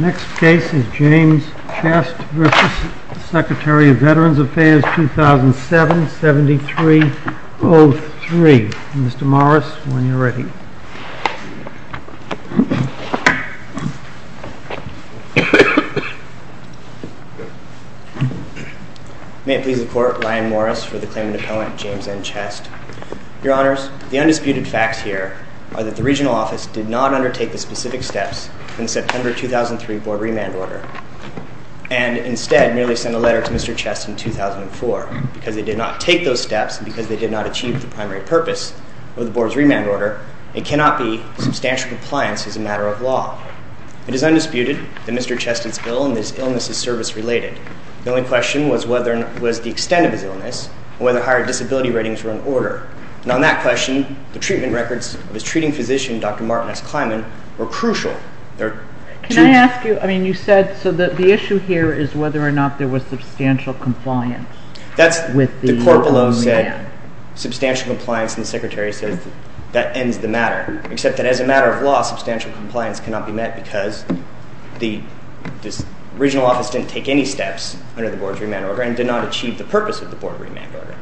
Next case is James Chest v. Secretary of Veterans Affairs, 2007-7303. Mr. Morris, when you are ready. MR. MORRIS May it please the Court, Ryan Morris for the claimant appellant, James N. Chest. Your Honors, the undisputed facts here are that the Regional Office did not undertake the specific steps in the September 2003 Board Remand Order and instead merely sent a letter to Mr. Chest in 2004 because they did not take those steps and because they did not achieve the primary purpose of the Board's Remand Order. However, it cannot be substantial compliance as a matter of law. It is undisputed that Mr. Chest is ill and his illness is service related. The only question was the extent of his illness and whether higher disability ratings were in order. And on that question, the treatment records of his treating physician, Dr. Martin S. Kleinman, were crucial. THE COURT The issue here is whether or not there was substantial compliance with the Board Remand Order. MR. MORRIS The Court below said substantial compliance and the Secretary said that ends the matter, except that as a matter of law, substantial compliance cannot be met because the Regional Office did not take any steps under the Board's Remand Order and did not achieve the purpose of the Board Remand Order.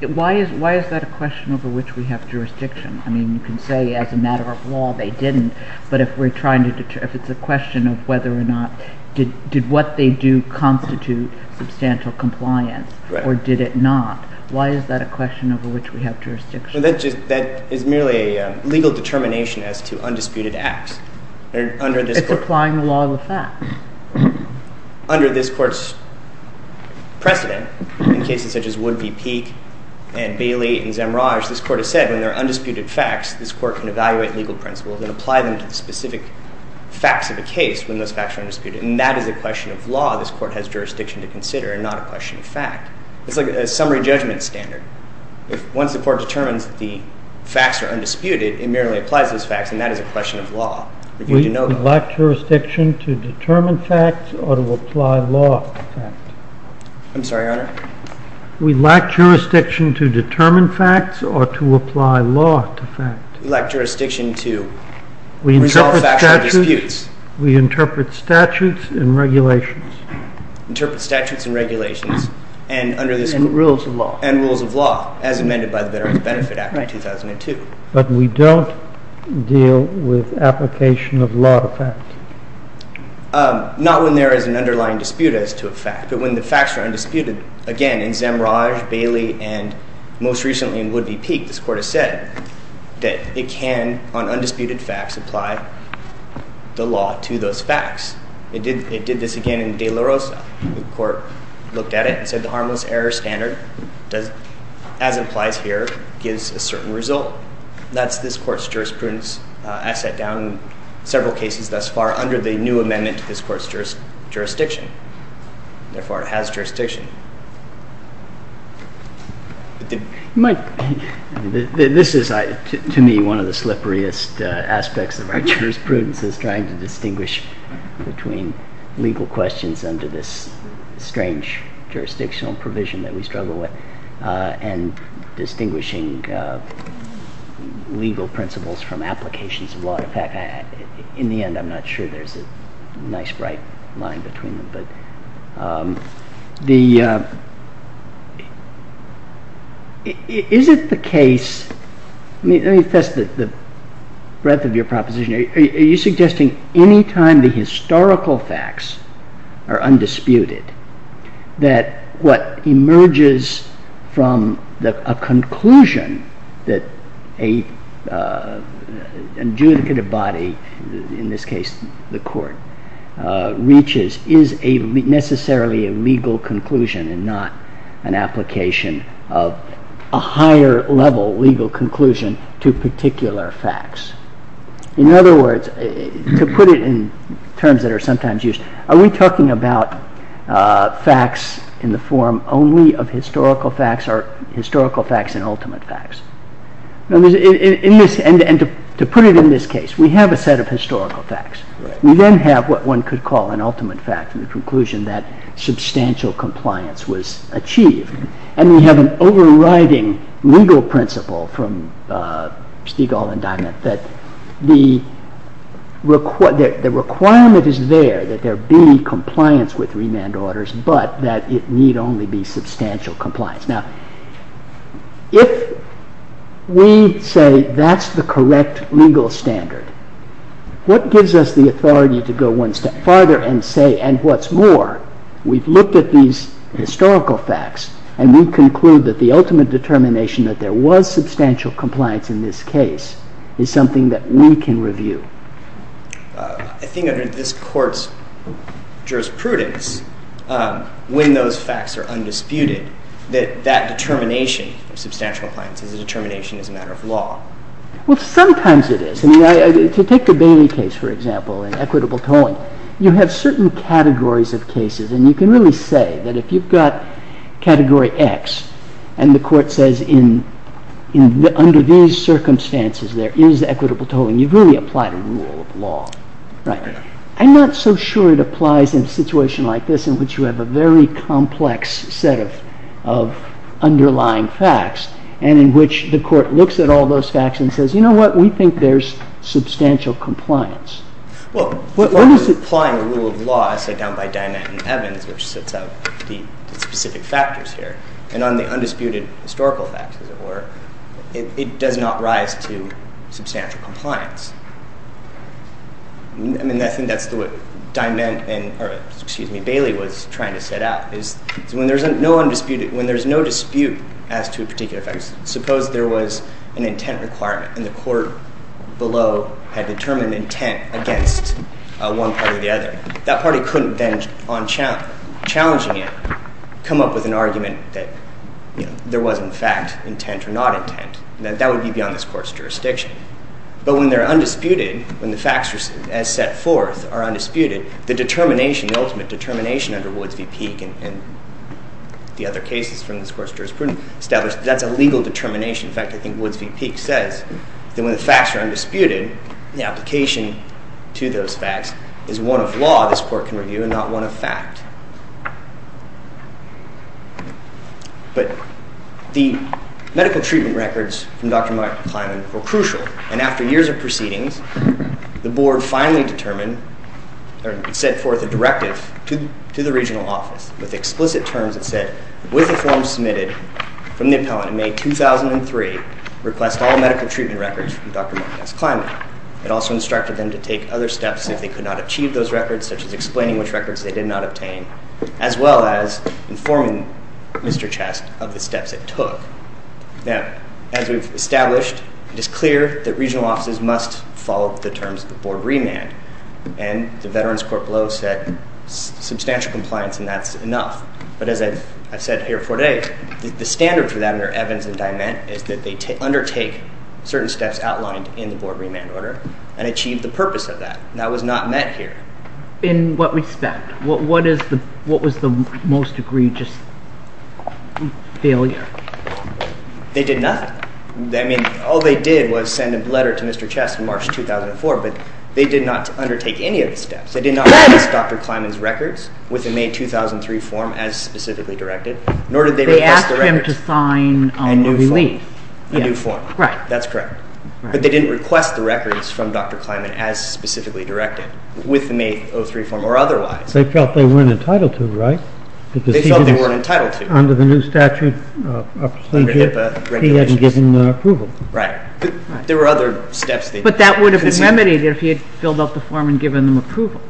THE COURT Why is that a question over which we have jurisdiction? I mean, you can say as a matter of law they didn't, but if we're trying to determine, if it's a question of whether or not, did what they do constitute substantial compliance or did it not, why is that a question over which we have jurisdiction? MR. MORRIS That is merely a legal determination as to undisputed acts. THE COURT It's applying the law to the facts. MR. MORRIS Under this Court's precedent, in cases such as Wood v. Peek and Bailey v. Zemraj, this Court has said when there are undisputed facts, this Court can evaluate legal principles and apply them to the specific facts of a case when those facts are undisputed. And that is a question of law this Court has jurisdiction to consider and not a question of fact. It's like a summary judgment standard. Once the Court determines that the facts are undisputed, it merely applies those facts, and that is a question of law. THE COURT We lack jurisdiction to determine facts or to apply law to facts. MR. MORRIS I'm sorry, Your Honor? THE COURT We lack jurisdiction to determine facts or to apply law to facts. MR. MORRIS We lack jurisdiction to resolve factual disputes. THE COURT We interpret statutes and regulations. MR. MORRIS We interpret statutes and regulations. THE COURT And rules of law. MR. MORRIS And rules of law, as amended by the Benefit Act of 2002. THE COURT But we don't deal with application of law to facts. MR. MORRIS Not when there is an underlying dispute as to a fact. But when the facts are undisputed, again, in Zemraj, Bailey, and most recently in Woodley Peak, this Court has said that it can, on undisputed facts, apply the law to those facts. It did this again in De La Rosa. The Court looked at it and said the harmless error standard, as it applies here, gives a certain result. That's this Court's jurisprudence as set down in several cases thus far under the new amendment to this Court's jurisdiction. Therefore, it has jurisdiction. MR. KINZER This is, to me, one of the slipperiest aspects of our jurisprudence, is trying to distinguish between legal questions under this strange jurisdictional provision that we struggle with and distinguishing legal principles from applications of law. In fact, in the end, I'm not sure there's a nice, bright line between them. Is it the case, let me test the breadth of your proposition, are you suggesting any time the historical facts are undisputed, that what emerges from a conclusion that an adjudicative body, in this case the Court, reaches is necessarily a legal conclusion and not an application of a higher level legal conclusion to particular facts? In other words, to put it in terms that are sometimes used, are we talking about facts in the form only of historical facts or historical facts and ultimate facts? To put it in this case, we have a set of historical facts. We then have what one could call an ultimate fact, the conclusion that substantial compliance was achieved. And we have an overriding legal principle from Stigall's indictment that the requirement is there, that there be compliance with remand orders, but that it need only be substantial compliance. Now, if we say that's the correct legal standard, what gives us the authority to go one step farther and say, and what's more, we've looked at these historical facts, and we conclude that the ultimate determination that there was substantial compliance in this case is something that we can review? I think under this Court's jurisprudence, when those facts are undisputed, that that determination of substantial compliance is a determination as a matter of law. Well, sometimes it is. I mean, to take the Bailey case, for example, in equitable tolling, you have certain categories of cases. And you can really say that if you've got category X, and the Court says, under these circumstances, there is equitable tolling, you've really applied a rule of law. I'm not so sure it applies in a situation like this in which you have a very complex set of underlying facts, and in which the Court looks at all those facts and says, you know what, we think there's substantial compliance. Well, when you're applying a rule of law, as set down by Diment and Evans, which sets out the specific factors here, and on the undisputed historical facts, as it were, it does not rise to substantial compliance. I mean, I think that's what Diment and, or, excuse me, Bailey was trying to set out, is when there's no dispute as to a particular fact, suppose there was an intent requirement, and the Court below had determined intent against one party or the other. That party couldn't then, on challenging it, come up with an argument that there was, in fact, intent or not intent. That would be beyond this Court's jurisdiction. But when they're undisputed, when the facts, as set forth, are undisputed, the determination, the ultimate determination, under Woods v. Peek and the other cases from this Court's jurisprudence, establish that that's a legal determination. In fact, I think Woods v. Peek says that when the facts are undisputed, the application to those facts is one of law this Court can review and not one of fact. But the medical treatment records from Dr. Michael Kleinman were crucial, and after years of proceedings, the Board finally determined, or sent forth a directive to the regional office with explicit terms that said, with the form submitted from the appellant in May 2003, request all medical treatment records from Dr. Michael Kleinman. It also instructed them to take other steps if they could not achieve those records, such as explaining which records they did not obtain, as well as informing Mr. Chast of the steps it took. Now, as we've established, it is clear that regional offices must follow the terms of the Board remand, and the Veterans Court below said substantial compliance, and that's enough. But as I've said here before today, the standard for that under Evans and Diment is that they undertake certain steps outlined in the Board remand order and achieve the purpose of that, and that was not met here. In what respect, what was the most egregious failure? They did nothing. I mean, all they did was send a letter to Mr. Chast in March 2004, but they did not undertake any of the steps. They did not request Dr. Kleinman's records with the May 2003 form as specifically directed, nor did they request the records. They asked him to sign a relief. A new form. Right. That's correct. But they didn't request the records from Dr. Kleinman as specifically directed with the May 2003 form or otherwise. They felt they weren't entitled to, right? They felt they weren't entitled to. Under the new statute, he hadn't given approval. Right. There were other steps. But that would have been remedied if he had filled out the form and given them approval.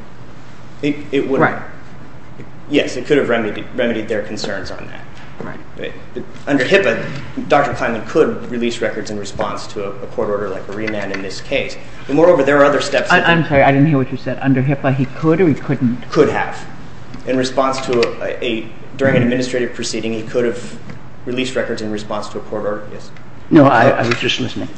It would have. Right. Yes, it could have remedied their concerns on that. Right. Under HIPAA, Dr. Kleinman could release records in response to a court order like a remand in this case. But moreover, there are other steps. I'm sorry. I didn't hear what you said. Under HIPAA, he could or he couldn't? Could have. In response to a ‑‑ during an administrative proceeding, he could have released records in response to a court order. Yes. No, I was just listening.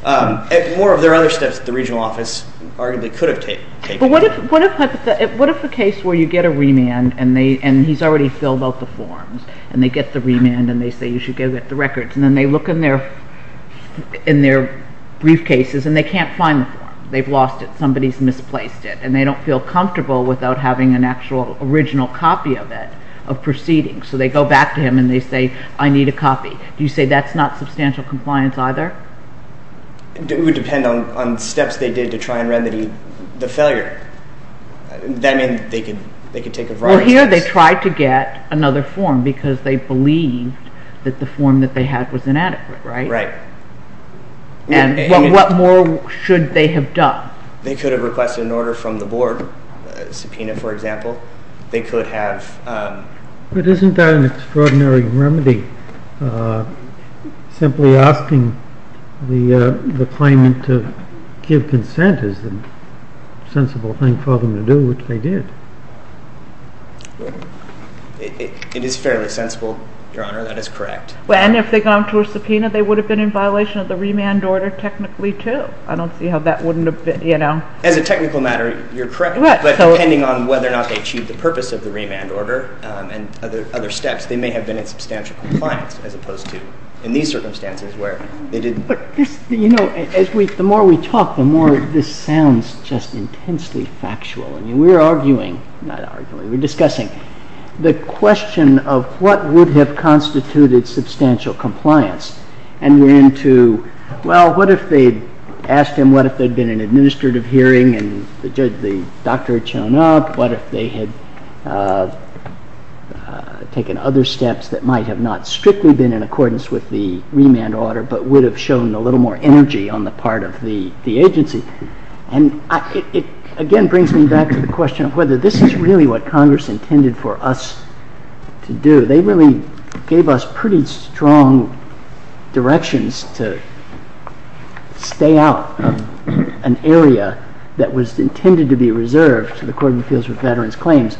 Moreover, there are other steps that the regional office arguably could have taken. But what if a case where you get a remand and he's already filled out the forms and they get the remand and they say you should get the records and then they look in their briefcases and they can't find the form. They've lost it. Somebody's misplaced it. And they don't feel comfortable without having an actual original copy of it, of proceedings. So they go back to him and they say, I need a copy. Do you say that's not substantial compliance either? It would depend on steps they did to try and remedy the failure. That means they could take a variety of steps. Well, here they tried to get another form because they believed that the form that they had was inadequate, right? Right. And what more should they have done? They could have requested an order from the board, a subpoena, for example. They could have ‑‑ But isn't that an extraordinary remedy? Simply asking the claimant to give consent is a sensible thing for them to do, which they did. It is fairly sensible, Your Honor. That is correct. And if they'd gone to a subpoena, they would have been in violation of the remand order technically too. I don't see how that wouldn't have been, you know. As a technical matter, you're correct. But depending on whether or not they achieved the purpose of the remand order and other steps, they may have been in substantial compliance as opposed to in these circumstances where they didn't. You know, the more we talk, the more this sounds just intensely factual. I mean, we're arguing, not arguing, we're discussing the question of what would have constituted substantial compliance. And then to, well, what if they'd asked him what if there had been an administrative hearing and the doctor had shown up? What if they had taken other steps that might have not strictly been in accordance with the remand order but would have shown a little more energy on the part of the agency? And it again brings me back to the question of whether this is really what Congress intended for us to do. They really gave us pretty strong directions to stay out of an area that was intended to be reserved in accordance with Veterans Claims,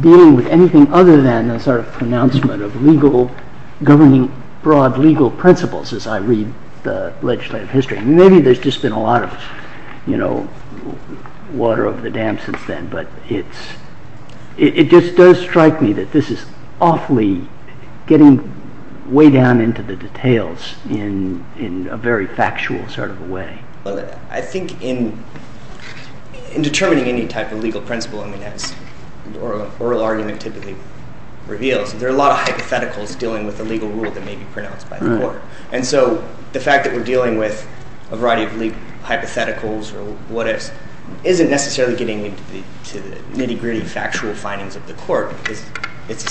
dealing with anything other than the sort of pronouncement of legal, governing broad legal principles as I read the legislative history. Maybe there's just been a lot of, you know, water over the dam since then. But it just does strike me that this is awfully getting way down into the details in a very factual sort of a way. I think in determining any type of legal principle, I mean, as oral argument typically reveals, there are a lot of hypotheticals dealing with the legal rule that may be pronounced by the court. And so the fact that we're dealing with a variety of legal hypotheticals or what ifs isn't necessarily getting into the nitty-gritty factual findings of the court.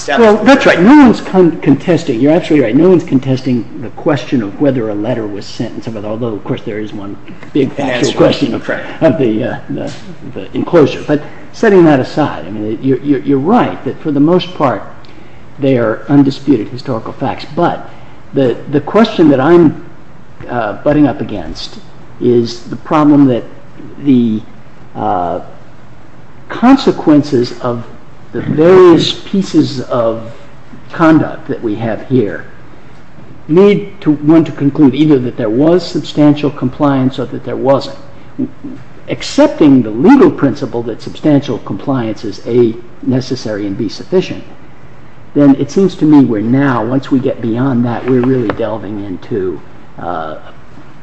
Well, that's right. No one's contesting. You're absolutely right. No one's contesting the question of whether a letter was sent. Although, of course, there is one big factual question of the enclosure. But setting that aside, I mean, you're right that for the most part they are undisputed historical facts. But the question that I'm butting up against is the problem that the consequences of the various pieces of conduct that we have here need one to conclude either that there was substantial compliance or that there wasn't. Accepting the legal principle that substantial compliance is A, necessary and B, sufficient, then it seems to me we're now, once we get beyond that, we're really delving into a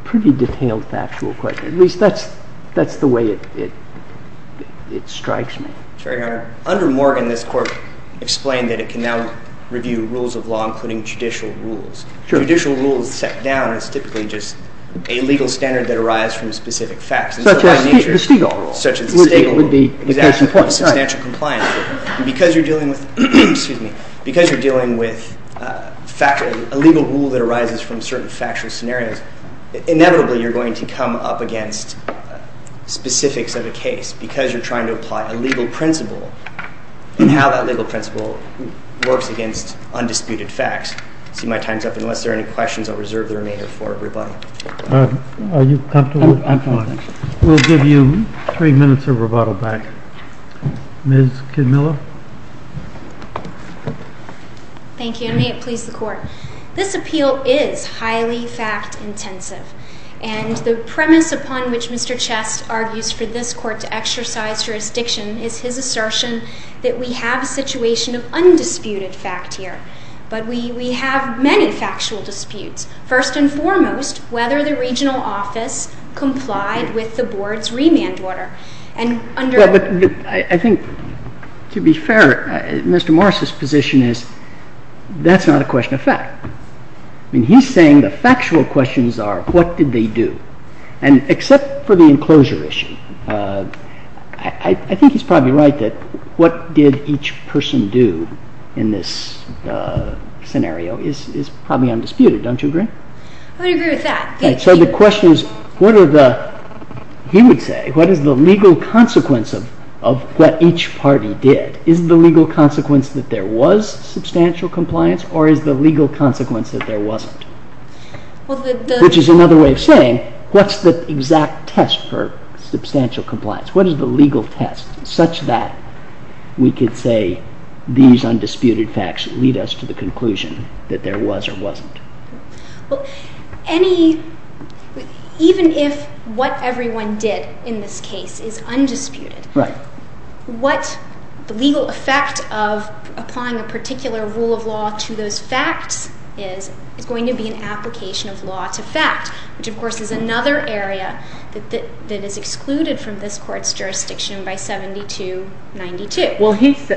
pretty detailed factual question. At least that's the way it strikes me. Sure, Your Honor. Under Morgan, this Court explained that it can now review rules of law, including judicial rules. Sure. Judicial rules set down as typically just a legal standard that arises from specific facts. Such as the Stigall rule. Such as the Stigall rule. Stigall would be the case in point. Exactly. Substantial compliance. Because you're dealing with a legal rule that arises from certain factual scenarios, inevitably you're going to come up against specifics of a case because you're trying to apply a legal principle and how that legal principle works against undisputed facts. See, my time's up. Unless there are any questions, I'll reserve the remainder for everybody. Are you comfortable? I'm fine. We'll give you three minutes of rebuttal back. Ms. Kidmiller. Thank you. May it please the Court. This appeal is highly fact-intensive. And the premise upon which Mr. Chess argues for this Court to exercise jurisdiction is his assertion that we have a situation of undisputed fact here. But we have many factual disputes. First and foremost, whether the regional office complied with the Board's remand order. I think, to be fair, Mr. Morris' position is that's not a question of fact. He's saying the factual questions are what did they do? And except for the enclosure issue, I think he's probably right that what did each person do in this scenario is probably undisputed. Don't you agree? I would agree with that. So the question is, he would say, what is the legal consequence of what each party did? Is the legal consequence that there was substantial compliance or is the legal consequence that there wasn't? Which is another way of saying, what's the exact test for substantial compliance? What is the legal test such that we could say these undisputed facts lead us to the conclusion that there was or wasn't? Even if what everyone did in this case is undisputed, what the legal effect of applying a particular rule of law to those facts is is going to be an application of law to fact, which of course is another area that is excluded from this Court's jurisdiction by 7292.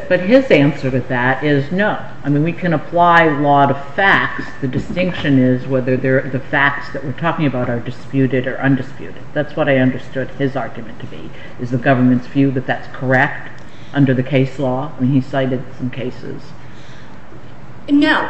But his answer to that is no. We can apply law to facts. The distinction is whether the facts that we're talking about are disputed or undisputed. That's what I understood his argument to be. Is the government's view that that's correct under the case law? He cited some cases. No.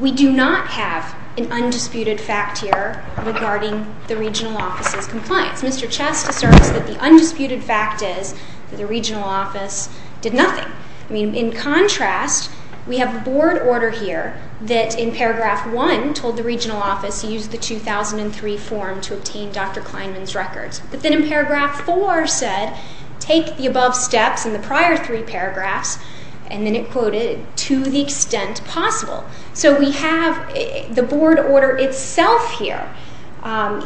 We do not have an undisputed fact here regarding the regional office's compliance. Mr. Chess asserts that the undisputed fact is that the regional office did nothing. In contrast, we have a board order here that in Paragraph 1 told the regional office to use the 2003 form to obtain Dr. Kleinman's records. But then in Paragraph 4 said, take the above steps in the prior three paragraphs, and then it quoted, to the extent possible. So we have the board order itself here.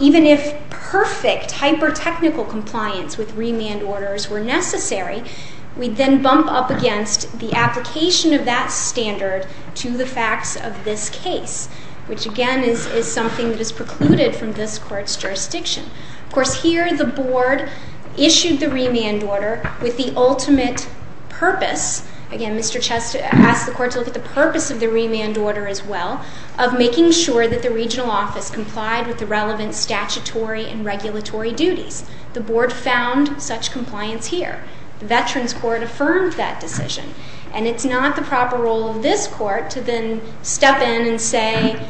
Even if perfect hyper-technical compliance with remand orders were necessary, we'd then bump up against the application of that standard to the facts of this case, which again is something that is precluded from this Court's jurisdiction. Of course, here the board issued the remand order with the ultimate purpose. Again, Mr. Chess asked the Court to look at the purpose of the remand order as well, of making sure that the regional office complied with the relevant statutory and regulatory duties. The board found such compliance here. The Veterans Court affirmed that decision. And it's not the proper role of this Court to then step in and say,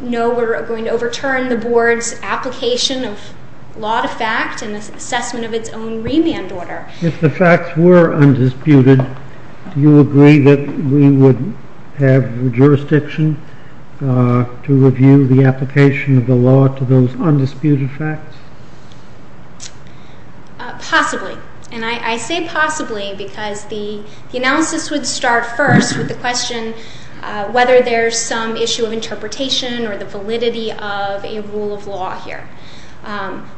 no, we're going to overturn the board's application of law to fact and the assessment of its own remand order. If the facts were undisputed, do you agree that we would have jurisdiction to review the application of the law to those undisputed facts? Possibly. And I say possibly because the analysis would start first with the question whether there's some issue of interpretation or the validity of a rule of law here.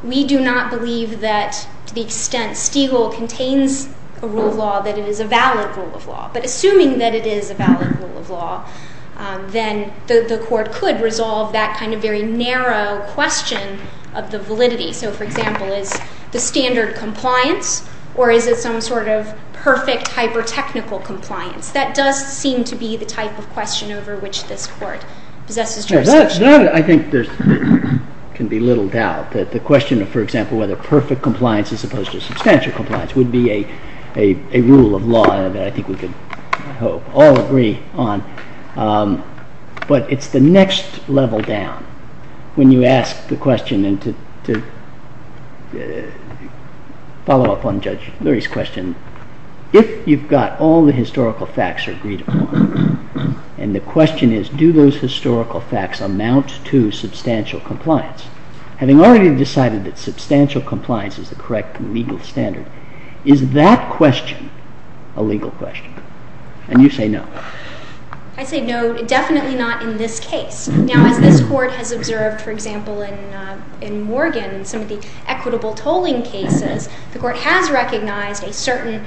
We do not believe that to the extent Stiegel contains a rule of law that it is a valid rule of law. But assuming that it is a valid rule of law, then the Court could resolve that kind of very narrow question of the validity. So, for example, is the standard compliance or is it some sort of perfect hyper-technical compliance? That does seem to be the type of question over which this Court possesses jurisdiction. I think there can be little doubt that the question of, for example, whether perfect compliance as opposed to substantial compliance would be a rule of law that I think we could all agree on. But it's the next level down when you ask the question, and to follow up on Judge Leary's question, if you've got all the historical facts agreed upon, and the question is, do those historical facts amount to substantial compliance? Having already decided that substantial compliance is the correct legal standard, is that question a legal question? And you say no. I say no, definitely not in this case. Now, as this Court has observed, for example, in Morgan, in some of the equitable tolling cases, the Court has recognized a certain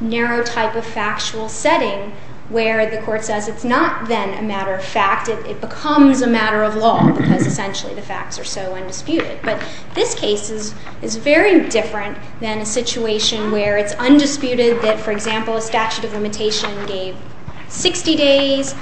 narrow type of factual setting where the Court says it's not then a matter of fact. It becomes a matter of law because essentially the facts are so undisputed. But this case is very different than a situation where it's undisputed that, for example, a statute of limitation gave 60 days,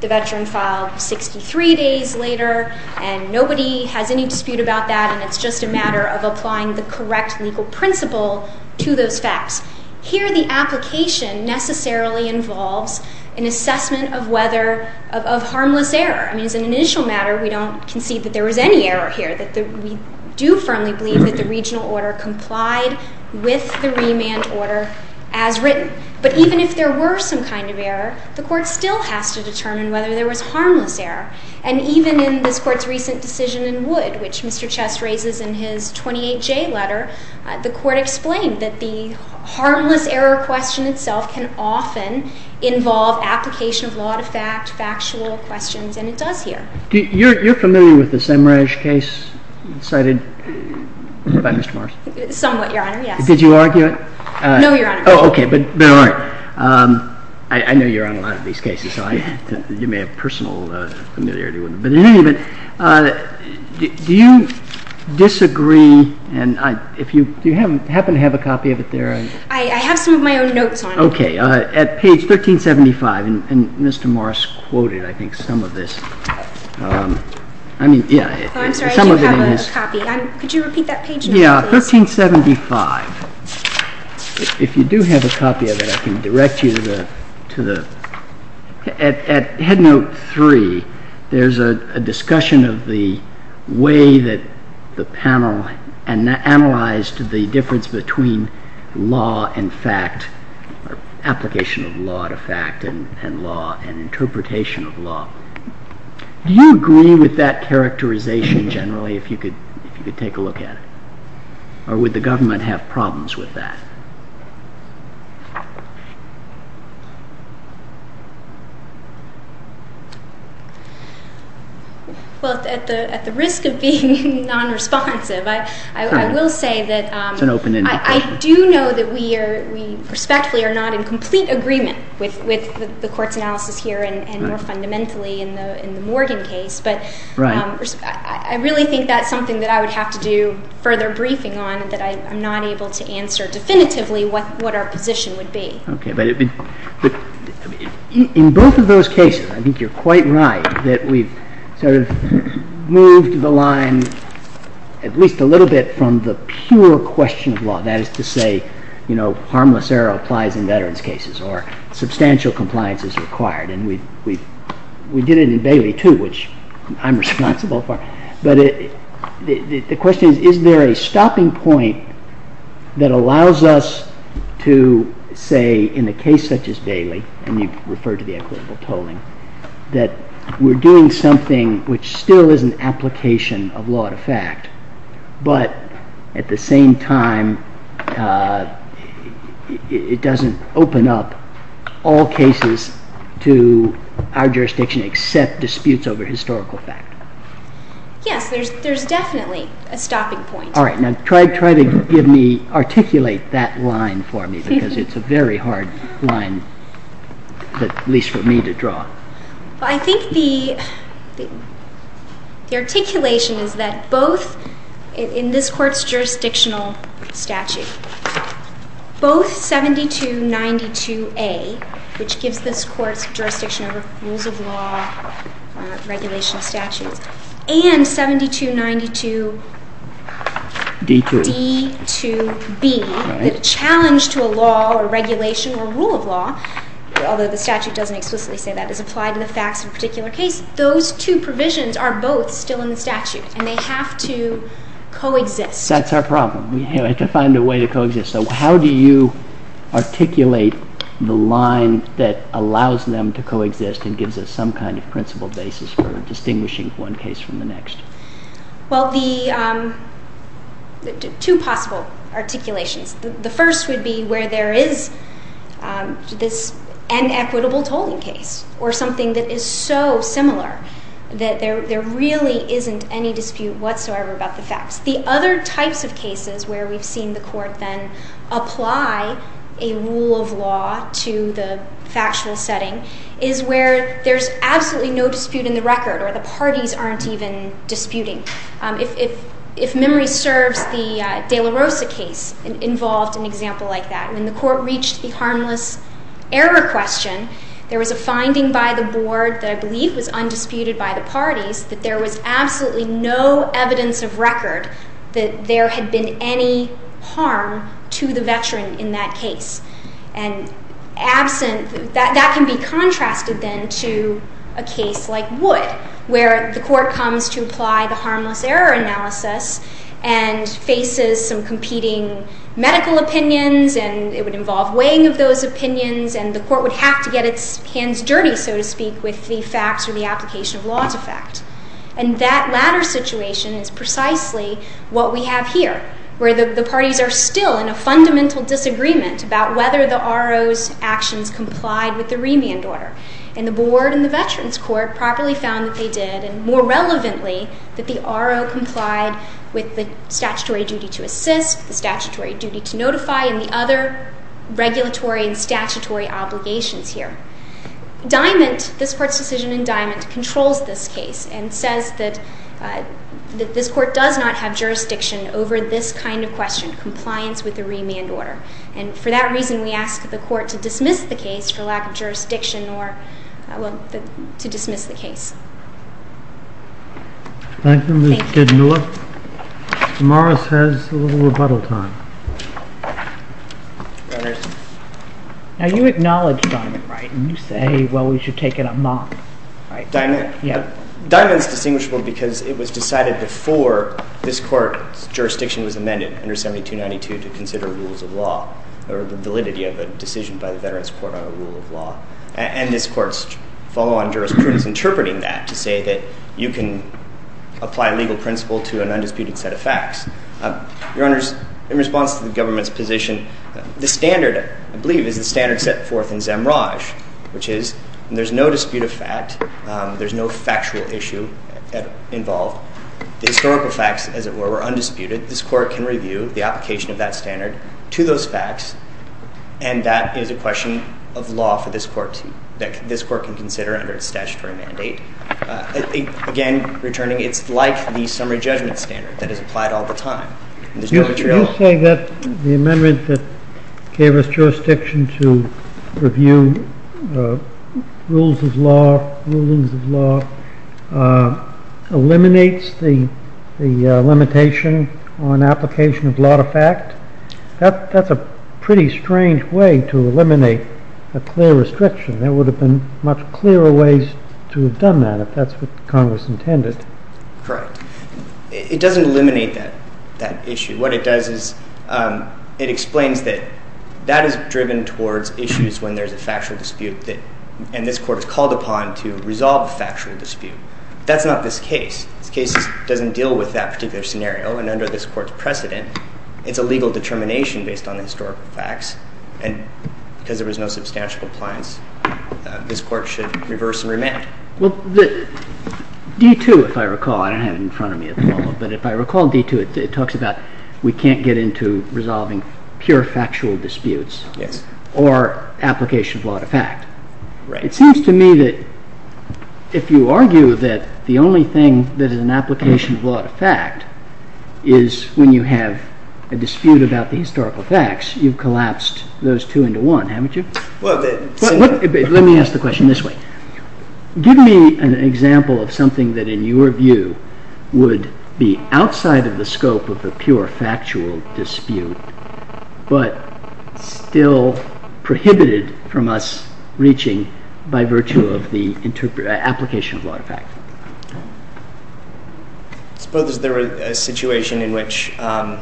the veteran filed 63 days later, and nobody has any dispute about that, and it's just a matter of applying the correct legal principle to those facts. Here, the application necessarily involves an assessment of whether of harmless error. I mean, as an initial matter, we don't concede that there was any error here, that we do firmly believe that the regional order complied with the remand order as written. But even if there were some kind of error, the Court still has to determine whether there was harmless error. And even in this Court's recent decision in Wood, which Mr. Chess raises in his 28J letter, the Court explained that the harmless error question itself can often involve application of law to fact, factual questions, and it does here. You're familiar with the Semraj case cited by Mr. Morris? Somewhat, Your Honor, yes. Did you argue it? No, Your Honor. Oh, okay. But all right. I know you're on a lot of these cases, so you may have personal familiarity with them. Do you disagree, and if you happen to have a copy of it there? I have some of my own notes on it. Okay. At page 1375, and Mr. Morris quoted, I think, some of this. I mean, yeah. I'm sorry, I do have a copy. Could you repeat that page, please? Yeah, 1375. If you do have a copy of it, I can direct you to the... At Headnote 3, there's a discussion of the way that the panel analyzed the difference between law and fact, or application of law to fact and law and interpretation of law. Do you agree with that characterization generally, if you could take a look at it? Or would the government have problems with that? Well, at the risk of being non-responsive, I will say that... It's an open-ended question. I do know that we are respectfully are not in complete agreement with the court's analysis here, and more fundamentally in the Morgan case. Right. But I really think that's something that I would have to do further briefing on, that I'm not able to answer definitively what our position would be. Okay, but in both of those cases, I think you're quite right, that we've sort of moved the line at least a little bit from the pure question of law, that is to say, you know, harmless error applies in veterans' cases, or substantial compliance is required. And we did it in Bailey, too, which I'm responsible for. But the question is, is there a stopping point that allows us to say in a case such as Bailey, and you've referred to the equitable tolling, that we're doing something which still is an application of law to fact, but at the same time, it doesn't open up all cases to our jurisdiction except disputes over historical fact. Yes, there's definitely a stopping point. All right, now try to articulate that line for me, because it's a very hard line, at least for me, to draw. I think the articulation is that both in this court's jurisdictional statute, both 7292A, which gives this court's jurisdiction over rules of law, regulation of statutes, and 7292D2B, the challenge to a law or regulation or rule of law, although the statute doesn't explicitly say that, is applied to the facts of a particular case. Those two provisions are both still in the statute, and they have to coexist. That's our problem. We have to find a way to coexist. So how do you articulate the line that allows them to coexist and gives us some kind of principled basis for distinguishing one case from the next? Well, two possible articulations. The first would be where there is this inequitable tolling case or something that is so similar that there really isn't any dispute whatsoever about the facts. The other types of cases where we've seen the court then apply a rule of law to the factual setting is where there's absolutely no dispute in the record or the parties aren't even disputing. If memory serves, the de la Rosa case involved an example like that. When the court reached the harmless error question, there was a finding by the board that I believe was undisputed by the parties that there was absolutely no evidence of record that there had been any harm to the veteran in that case. And that can be contrasted then to a case like Wood where the court comes to apply the harmless error analysis and faces some competing medical opinions, and it would involve weighing of those opinions, and the court would have to get its hands dirty, so to speak, with the facts or the application of law to fact. And that latter situation is precisely what we have here where the parties are still in a fundamental disagreement about whether the RO's actions complied with the remand order. And the board and the veterans court properly found that they did, and more relevantly, that the RO complied with the statutory duty to assist, the statutory duty to notify, and the other regulatory and statutory obligations here. Diamond, this court's decision in Diamond, controls this case and says that this court does not have jurisdiction over this kind of question, compliance with the remand order. And for that reason, we ask the court to dismiss the case for lack of jurisdiction or to dismiss the case. Thank you, Ms. Kidmiller. Morris has a little rebuttal time. Your Honors. Now, you acknowledge Diamond, right? And you say, well, we should take it amok, right? Diamond is distinguishable because it was decided before this court's jurisdiction was amended under 7292 to consider rules of law or the validity of a decision by the veterans court on a rule of law. And this court's follow-on jurisprudence interpreting that to say that you can apply legal principle to an undisputed set of facts. Your Honors, in response to the government's position, the standard, I believe, is the standard set forth in Zemraj, which is there's no dispute of fact, there's no factual issue involved. The historical facts, as it were, were undisputed. This court can review the application of that standard to those facts, and that is a question of law for this court to consider under its statutory mandate. Again, returning, it's like the summary judgment standard that is applied all the time. You say that the amendment that gave us jurisdiction to review rules of law, rulings of law, eliminates the limitation on application of law to fact? That's a pretty strange way to eliminate a clear restriction. There would have been much clearer ways to have done that if that's what Congress intended. Correct. It doesn't eliminate that issue. What it does is it explains that that is driven towards issues when there's a factual dispute, and this court is called upon to resolve a factual dispute. That's not this case. This case doesn't deal with that particular scenario, and under this court's precedent, it's a legal determination based on the historical facts, and because there was no substantial compliance, this court should reverse and remand. Well, D-2, if I recall, I don't have it in front of me at the moment, but if I recall D-2, it talks about we can't get into resolving pure factual disputes or application of law to fact. It seems to me that if you argue that the only thing that is an application of law to fact is when you have a dispute about the historical facts, you've collapsed those two into one, haven't you? Let me ask the question this way. Give me an example of something that, in your view, would be outside of the scope of the pure factual dispute but still prohibited from us reaching by virtue of the application of law to fact. Suppose there was a situation in which an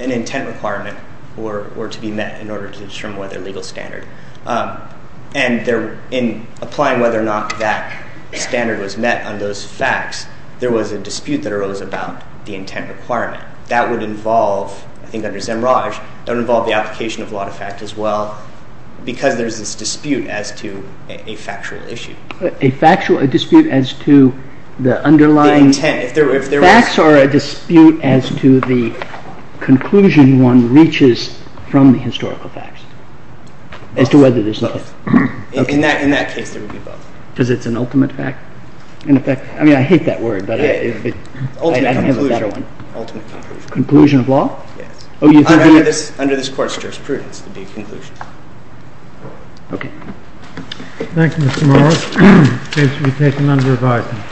intent requirement were to be met in order to determine whether a legal standard, and in applying whether or not that standard was met on those facts, there was a dispute that arose about the intent requirement. That would involve, I think under Zemraj, that would involve the application of law to fact as well because there's this dispute as to a factual issue. A dispute as to the underlying facts or a dispute as to the conclusion one reaches from the historical facts as to whether there's an intent? In that case, there would be both. Because it's an ultimate fact? I mean, I hate that word, but I don't have a better one. Ultimate conclusion. Conclusion of law? Yes. Under this Court's jurisprudence, it would be a conclusion. Okay. Thank you, Mr. Morris. The case will be taken under revised.